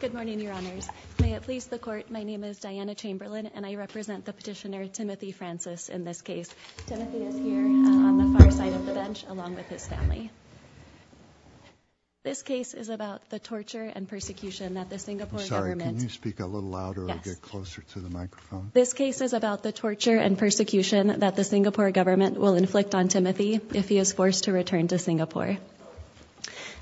Good morning, Your Honors. May it please the Court, my name is Diana Chamberlain and I represent the petitioner Timothy Francis in this case. Timothy is here on the far side of the bench along with his family. This case is about the torture and persecution that the Singapore government... I'm sorry, can you speak a little louder or get closer to the microphone? This case is about the torture and persecution that the Singapore government will inflict on Timothy if he is forced to return to Singapore.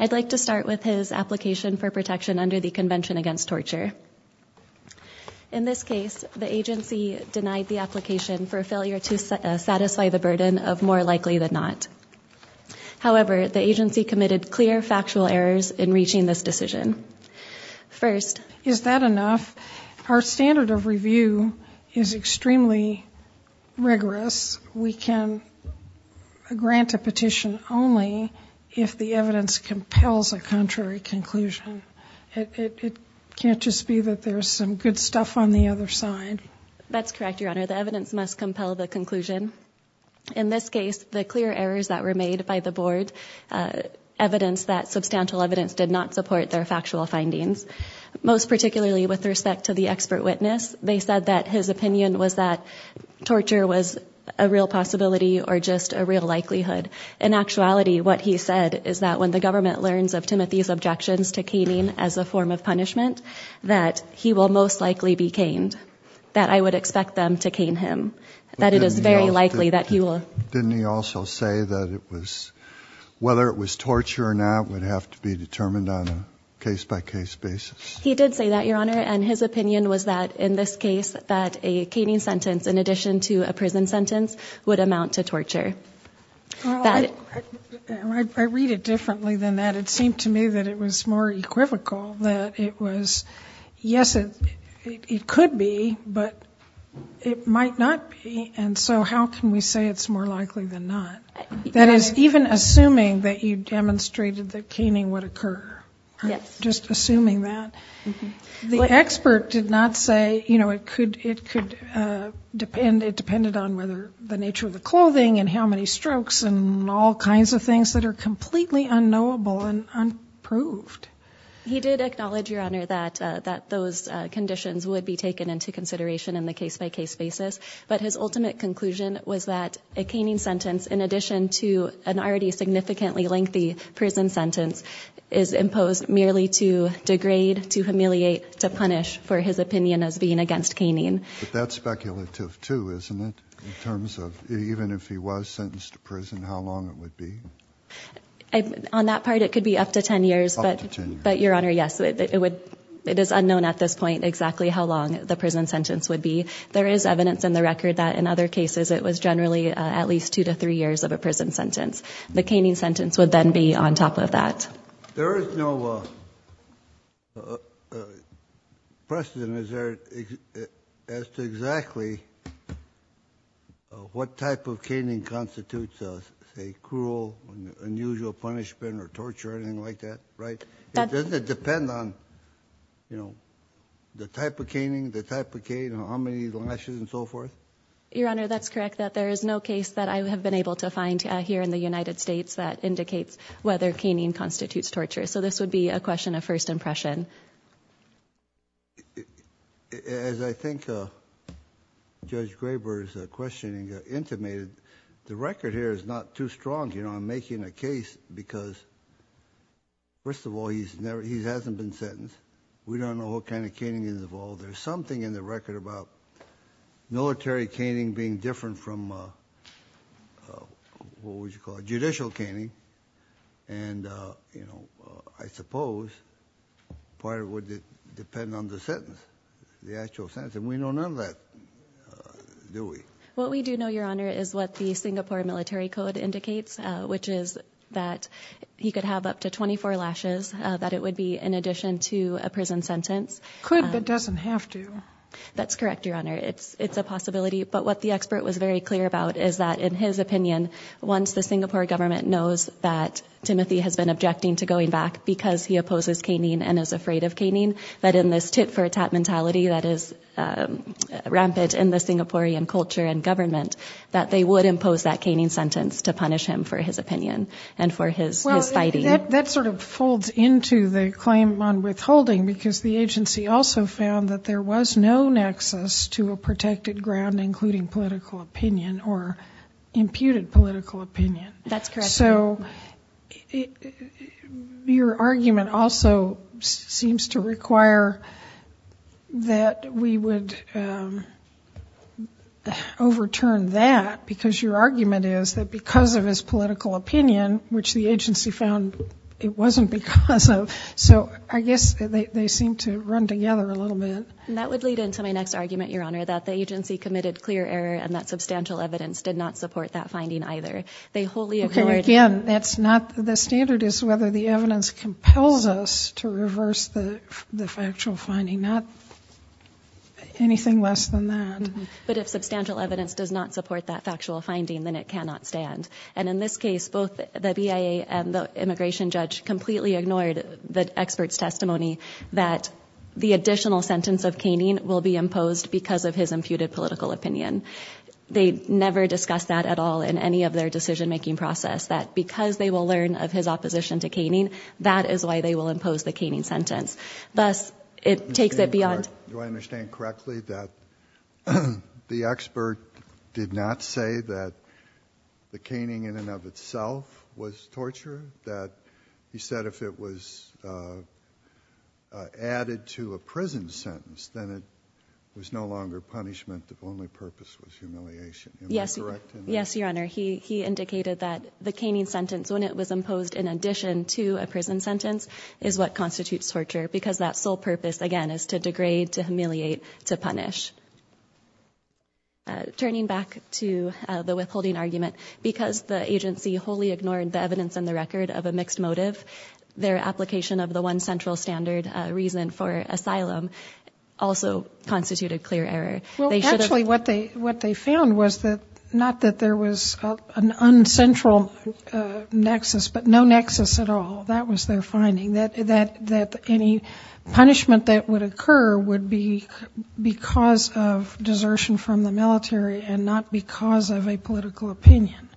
I'd like to start with his application for protection under the Convention Against Torture. In this case, the agency denied the application for failure to satisfy the burden of more likely than not. However, the agency committed clear factual errors in reaching this decision. Is that enough? Our standard of review is extremely rigorous. We can grant a petition only if the evidence compels a contrary conclusion. It can't just be that there's some good stuff on the other side. That's correct, Your Honor. The evidence must compel the conclusion. In this case, the clear errors that were made by the board evidence that substantial evidence did not support their factual findings. Most particularly with respect to the expert witness, they said that his opinion was that torture was a real possibility or just a real likelihood. In actuality, what he said is that when the government learns of Timothy's objections to caning as a form of punishment, that he will most likely be caned. That I would expect them to cane him. Didn't he also say that whether it was torture or not would have to be determined on a case-by-case basis? He did say that, Your Honor, and his opinion was that in this case that a caning sentence in addition to a prison sentence would amount to torture. I read it differently than that. It seemed to me that it was more equivocal. Yes, it could be, but it might not be, and so how can we say it's more likely than not? That is, even assuming that you demonstrated that caning would occur, just assuming that. The expert did not say it depended on the nature of the clothing and how many strokes and all kinds of things that are completely unknowable and unproved. He did acknowledge, Your Honor, that those conditions would be taken into consideration in the case-by-case basis, but his ultimate conclusion was that a caning sentence in addition to an already significantly lengthy prison sentence is imposed merely to degrade, to humiliate, to punish for his opinion as being against caning. But that's speculative, too, isn't it, in terms of even if he was sentenced to prison, how long it would be? On that part, it could be up to 10 years, but, Your Honor, yes, it is unknown at this point exactly how long the prison sentence would be. There is evidence in the record that in other cases it was generally at least two to three years of a prison sentence. The caning sentence would then be on top of that. There is no precedent, is there, as to exactly what type of caning constitutes a cruel, unusual punishment or torture or anything like that, right? Doesn't it depend on, you know, the type of caning, the type of cane, how many lashes and so forth? Your Honor, that's correct, that there is no case that I have been able to find here in the United States that indicates whether caning constitutes torture. So this would be a question of first impression. As I think Judge Graber's questioning intimated, the record here is not too strong, you know, on making a case because, first of all, he hasn't been sentenced. We don't know what kind of caning is involved. There's something in the record about military caning being different from, what would you call it, judicial caning. And, you know, I suppose part of it would depend on the sentence, the actual sentence. And we know none of that, do we? What we do know, Your Honor, is what the Singapore Military Code indicates, which is that he could have up to 24 lashes, that it would be in addition to a prison sentence. Could but doesn't have to. That's correct, Your Honor. It's a possibility. But what the expert was very clear about is that, in his opinion, once the Singapore government knows that Timothy has been objecting to going back because he opposes caning and is afraid of caning, that in this tit-for-tat mentality that is rampant in the Singaporean culture and government, that they would impose that caning sentence to punish him for his opinion and for his fighting. That sort of folds into the claim on withholding, because the agency also found that there was no nexus to a protected ground, including political opinion or imputed political opinion. That's correct. So your argument also seems to require that we would overturn that, because your argument is that because of his political opinion, which the agency found it wasn't because of, so I guess they seem to run together a little bit. And that would lead into my next argument, Your Honor, that the agency committed clear error and that substantial evidence did not support that finding either. They wholly ignored. Okay, again, that's not the standard is whether the evidence compels us to reverse the factual finding, not anything less than that. But if substantial evidence does not support that factual finding, then it cannot stand. And in this case, both the BIA and the immigration judge completely ignored the expert's testimony that the additional sentence of caning will be imposed because of his imputed political opinion. They never discussed that at all in any of their decision-making process, that because they will learn of his opposition to caning, that is why they will impose the caning sentence. Thus, it takes it beyond. Do I understand correctly that the expert did not say that the caning in and of itself was torture, that he said if it was added to a prison sentence, then it was no longer punishment, the only purpose was humiliation? Yes, Your Honor. He indicated that the caning sentence, when it was imposed in addition to a prison sentence, is what constitutes torture because that sole purpose, again, is to degrade, to humiliate, to punish. Turning back to the withholding argument, because the agency wholly ignored the evidence in the record of a mixed motive, their application of the one central standard reason for asylum also constituted clear error. Actually, what they found was not that there was an un-central nexus, but no nexus at all. That was their finding, that any punishment that would occur would be because of desertion from the military and not because of a political opinion.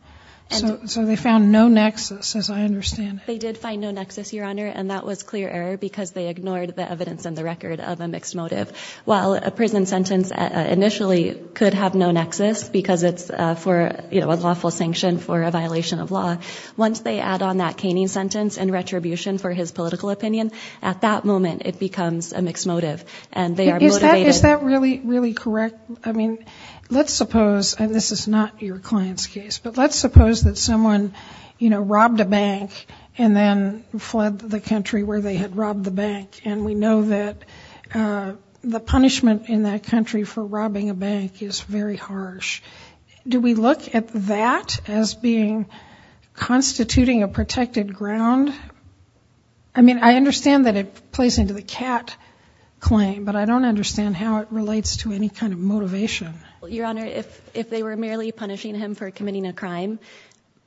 So they found no nexus, as I understand it. They did find no nexus, Your Honor, and that was clear error because they ignored the evidence in the record of a mixed motive. While a prison sentence initially could have no nexus because it's for a lawful sanction for a violation of law, once they add on that caning sentence and retribution for his political opinion, at that moment it becomes a mixed motive. And they are motivated. Is that really correct? I mean, let's suppose, and this is not your client's case, but let's suppose that someone, you know, robbed a bank and then fled the country where they had robbed the bank, and we know that the punishment in that country for robbing a bank is very harsh. Do we look at that as being constituting a protected ground? I mean, I understand that it plays into the Catt claim, but I don't understand how it relates to any kind of motivation. Well, Your Honor, if they were merely punishing him for committing a crime,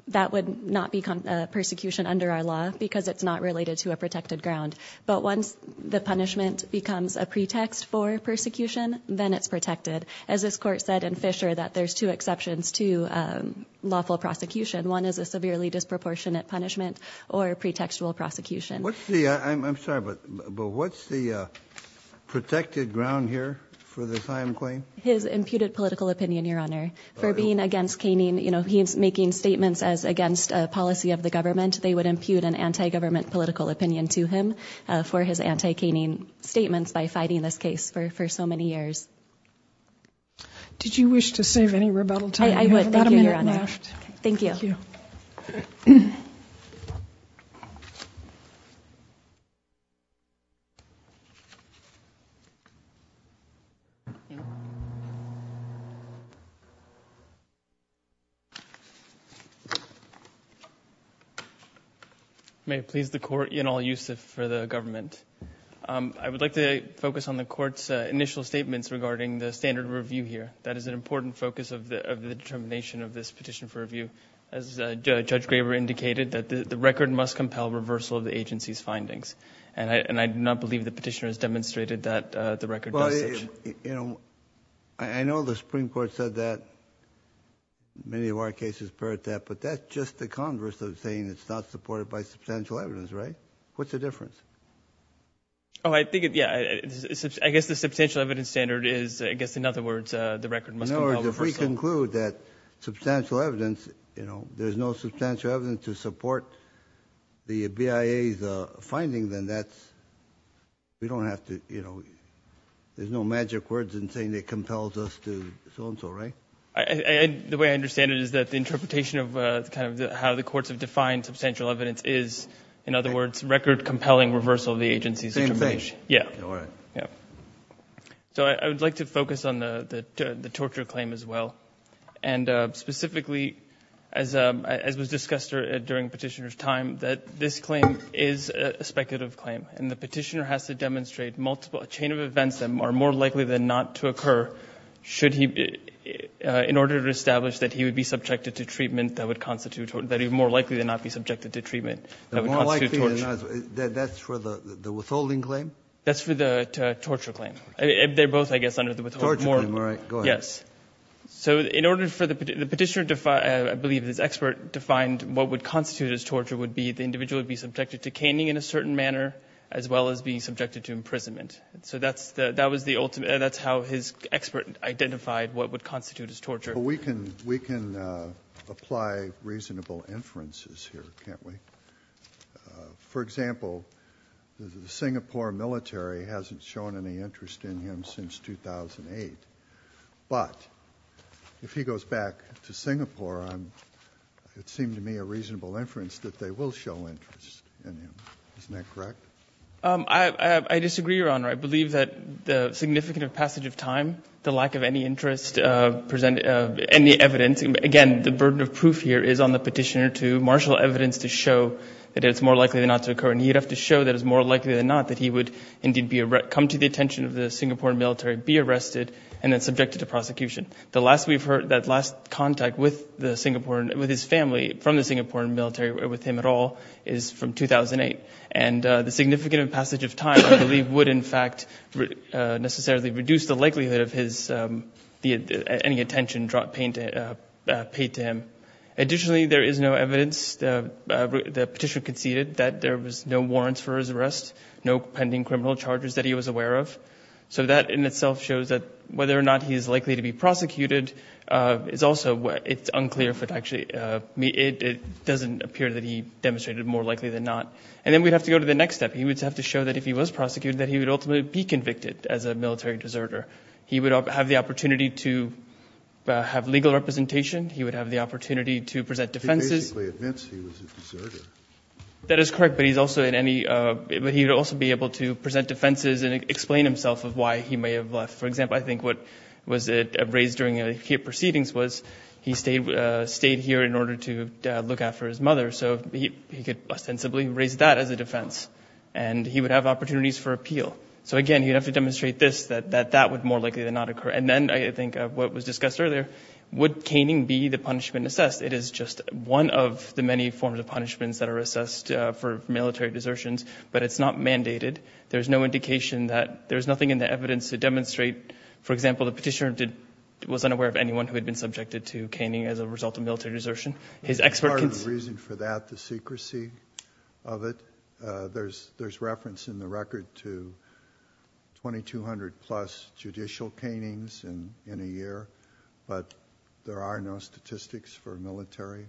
that would not be persecution under our law because it's not related to a protected ground. But once the punishment becomes a pretext for persecution, then it's protected. As this Court said in Fisher that there's two exceptions to lawful prosecution. One is a severely disproportionate punishment or pretextual prosecution. I'm sorry, but what's the protected ground here for this IAM claim? His imputed political opinion, Your Honor. For being against caning, you know, he's making statements as against a policy of the government. They would impute an anti-government political opinion to him for his anti-caning statements by fighting this case for so many years. Did you wish to save any rebuttal time? I would, thank you, Your Honor. You have about a minute left. Thank you. Thank you. May it please the Court in all use for the government. I would like to focus on the Court's initial statements regarding the standard review here. That is an important focus of the determination of this petition for review. As Judge Graber indicated, the record must compel reversal of the agency's findings. And I do not believe the petitioner has demonstrated that the record does such. You know, I know the Supreme Court said that. Many of our cases parrot that, but that's just the converse of saying it's not supported by substantial evidence, right? What's the difference? Oh, I think, yeah, I guess the substantial evidence standard is, I guess, in other words, the record must compel reversal. In other words, if we conclude that substantial evidence, you know, there's no substantial evidence to support the BIA's finding, then that's, we don't have to, you know, there's no magic words in saying it compels us to so-and-so, right? The way I understand it is that the interpretation of kind of how the courts have defined substantial evidence is, in other words, record compelling reversal of the agency's determination. Same thing. Yeah. So I would like to focus on the torture claim as well. And specifically, as was discussed during the petitioner's time, that this claim is a speculative claim, and the petitioner has to demonstrate a chain of events that are more likely than not to occur should he, in order to establish that he would be subjected to treatment that would constitute, that he would more likely than not be subjected to treatment that would constitute torture. More likely than not, that's for the withholding claim? That's for the torture claim. They're both, I guess, under the withholding. Torture claim, all right, go ahead. Yes. So in order for the petitioner to, I believe his expert defined what would constitute his torture would be the individual would be subjected to caning in a certain manner as well as being subjected to imprisonment. So that's how his expert identified what would constitute his torture. We can apply reasonable inferences here, can't we? For example, the Singapore military hasn't shown any interest in him since 2008. But if he goes back to Singapore, it seemed to me a reasonable inference that they will show interest in him. Isn't that correct? I disagree, Your Honor. I believe that the significant passage of time, the lack of any interest, any evidence, again, the burden of proof here is on the petitioner to marshal evidence to show that it's more likely than not to occur, and he'd have to show that it's more likely than not that he would indeed come to the attention of the Singapore military, be arrested, and then subjected to prosecution. The last we've heard, that last contact with his family from the Singapore military, with him at all, is from 2008. And the significant passage of time, I believe, would in fact necessarily reduce the likelihood of any attention paid to him. Additionally, there is no evidence. The petitioner conceded that there was no warrants for his arrest, no pending criminal charges that he was aware of. So that in itself shows that whether or not he is likely to be prosecuted is also unclear. It doesn't appear that he demonstrated more likely than not. And then we'd have to go to the next step. He would have to show that if he was prosecuted, that he would ultimately be convicted as a military deserter. He would have the opportunity to have legal representation. He would have the opportunity to present defenses. He basically admits he was a deserter. That is correct, but he's also in any – but he would also be able to present defenses and explain himself of why he may have left. For example, I think what was raised during the proceedings was he stayed here in order to look after his mother. So he could ostensibly raise that as a defense. And he would have opportunities for appeal. So again, he'd have to demonstrate this, that that would more likely than not occur. And then I think what was discussed earlier, would caning be the punishment assessed? It is just one of the many forms of punishments that are assessed for military desertions, but it's not mandated. There's no indication that – there's nothing in the evidence to demonstrate, for example, the petitioner was unaware of anyone who had been subjected to caning as a result of military desertion. Part of the reason for that, the secrecy of it, there's reference in the record to 2,200-plus judicial canings in a year, but there are no statistics for military.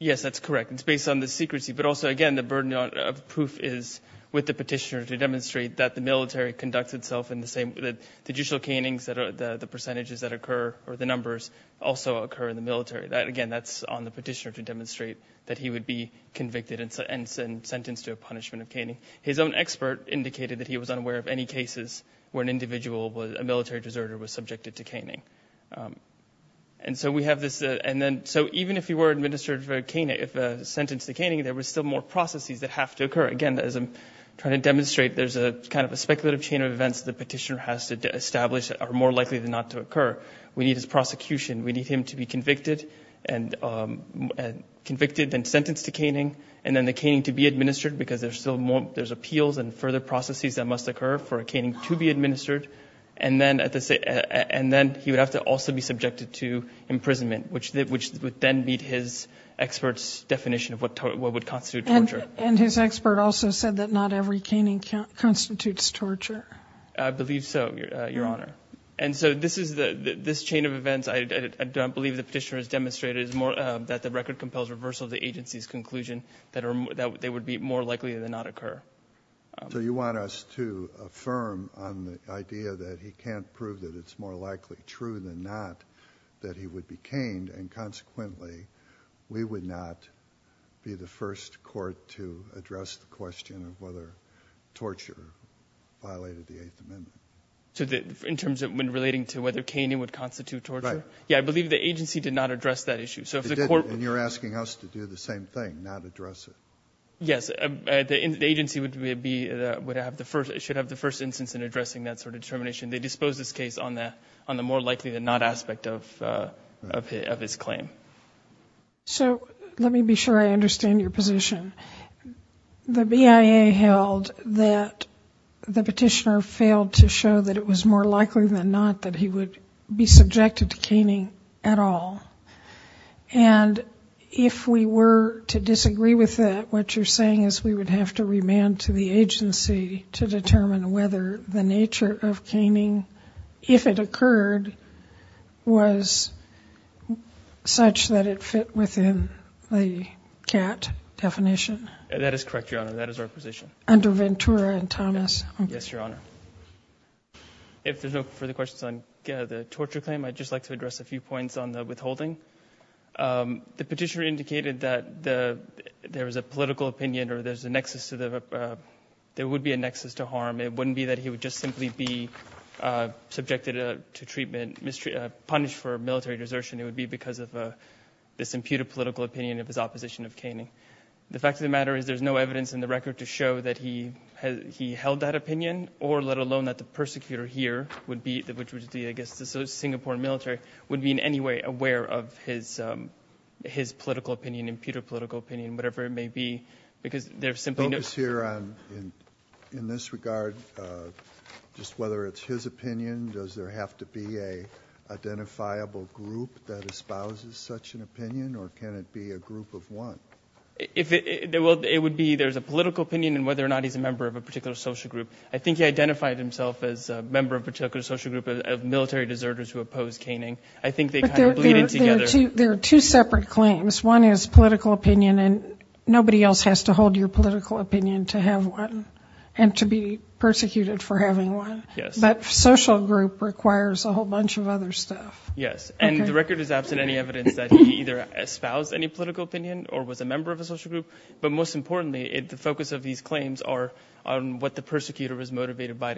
Yes, that's correct. It's based on the secrecy. But also, again, the burden of proof is with the petitioner to demonstrate that the military conducts itself in the same – the judicial canings, the percentages that occur or the numbers also occur in the military. Again, that's on the petitioner to demonstrate that he would be convicted and sentenced to a punishment of caning. His own expert indicated that he was unaware of any cases where an individual, a military deserter, was subjected to caning. And so we have this – and then – so even if he were administered for caning, if sentenced to caning, there were still more processes that have to occur. Again, as I'm trying to demonstrate, there's kind of a speculative chain of events the petitioner has to establish that are more likely than not to occur. We need his prosecution. We need him to be convicted and sentenced to caning and then the caning to be administered because there's still more – there's appeals and further processes that must occur for a caning to be administered. And then he would have to also be subjected to imprisonment, which would then meet his expert's definition of what would constitute torture. And his expert also said that not every caning constitutes torture. I believe so, Your Honor. And so this chain of events, I don't believe the petitioner has demonstrated, is more that the record compels reversal of the agency's conclusion that they would be more likely than not occur. So you want us to affirm on the idea that he can't prove that it's more likely true than not that he would be caned and consequently we would not be the first court to address the question of whether torture violated the Eighth Amendment. So in terms of when relating to whether caning would constitute torture? Right. Yeah, I believe the agency did not address that issue. It didn't, and you're asking us to do the same thing, not address it. Yes, the agency should have the first instance in addressing that sort of determination. They disposed this case on the more likely than not aspect of his claim. So let me be sure I understand your position. The BIA held that the petitioner failed to show that it was more likely than not that he would be subjected to caning at all. And if we were to disagree with that, what you're saying is we would have to remand to the agency to determine whether the nature of caning, if it occurred, was such that it fit within the CAT definition. That is correct, Your Honor. That is our position. Under Ventura and Thomas. Yes, Your Honor. If there's no further questions on the torture claim, I'd just like to address a few points on the withholding. The petitioner indicated that there was a political opinion or there would be a nexus to harm. It wouldn't be that he would just simply be subjected to treatment, punished for military desertion. It would be because of this imputed political opinion of his opposition of caning. The fact of the matter is there's no evidence in the record to show that he held that opinion, or let alone that the persecutor here, which would be, I guess, the Singapore military, would be in any way aware of his political opinion, imputed political opinion, whatever it may be. Focus here on, in this regard, just whether it's his opinion, does there have to be an identifiable group that espouses such an opinion, or can it be a group of one? It would be there's a political opinion in whether or not he's a member of a particular social group. I think he identified himself as a member of a particular social group of military deserters who opposed caning. I think they kind of bleeded together. There are two separate claims. One is political opinion, and nobody else has to hold your political opinion to have one and to be persecuted for having one. But social group requires a whole bunch of other stuff. Yes, and the record is absent any evidence that he either espoused any political opinion or was a member of a social group. But most importantly, the focus of these claims are on what the persecutor was motivated by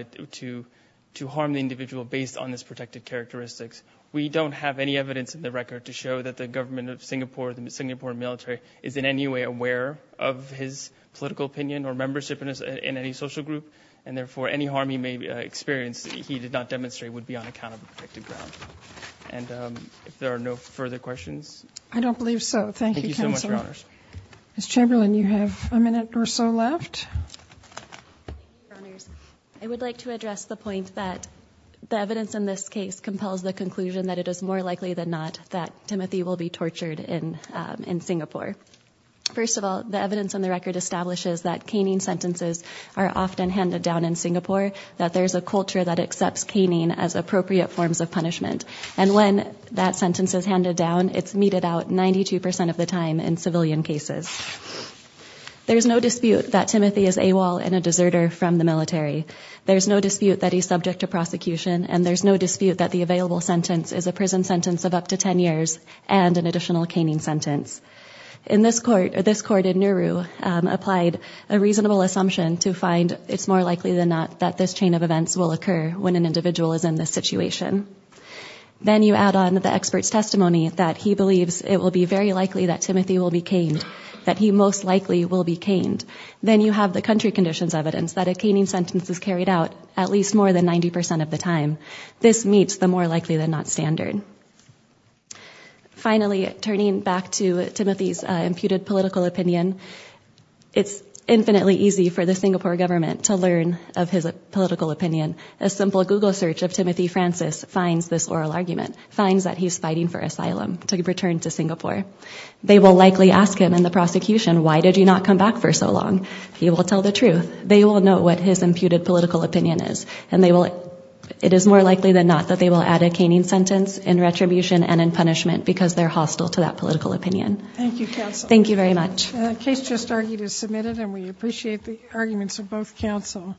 to harm the individual based on his protected characteristics. We don't have any evidence in the record to show that the government of Singapore, the Singapore military, is in any way aware of his political opinion or membership in any social group, and therefore any harm he may experience that he did not demonstrate would be on account of a protected ground. And if there are no further questions? I don't believe so. Thank you, Counselor. Thank you so much, Your Honors. Ms. Chamberlain, you have a minute or so left. Thank you, Your Honors. I would like to address the point that the evidence in this case compels the conclusion that it is more likely than not that Timothy will be tortured in Singapore. First of all, the evidence in the record establishes that caning sentences are often handed down in Singapore, that there's a culture that accepts caning as appropriate forms of punishment, and when that sentence is handed down, it's meted out 92% of the time in civilian cases. There's no dispute that Timothy is AWOL and a deserter from the military. There's no dispute that he's subject to prosecution, and there's no dispute that the available sentence is a prison sentence of up to 10 years and an additional caning sentence. This court in Nauru applied a reasonable assumption to find it's more likely than not that this chain of events will occur when an individual is in this situation. Then you add on the expert's testimony that he believes it will be very likely that Timothy will be caned, that he most likely will be caned. Then you have the country conditions evidence that a caning sentence is carried out at least more than 90% of the time. This meets the more likely than not standard. Finally, turning back to Timothy's imputed political opinion, it's infinitely easy for the Singapore government to learn of his political opinion. A simple Google search of Timothy Francis finds this oral argument, finds that he's fighting for asylum to return to Singapore. They will likely ask him in the prosecution, why did you not come back for so long? He will tell the truth. They will know what his imputed political opinion is, and it is more likely than not that they will add a caning sentence in retribution and in punishment because they're hostile to that political opinion. Thank you, counsel. Thank you very much. The case just argued is submitted, and we appreciate the arguments of both counsel.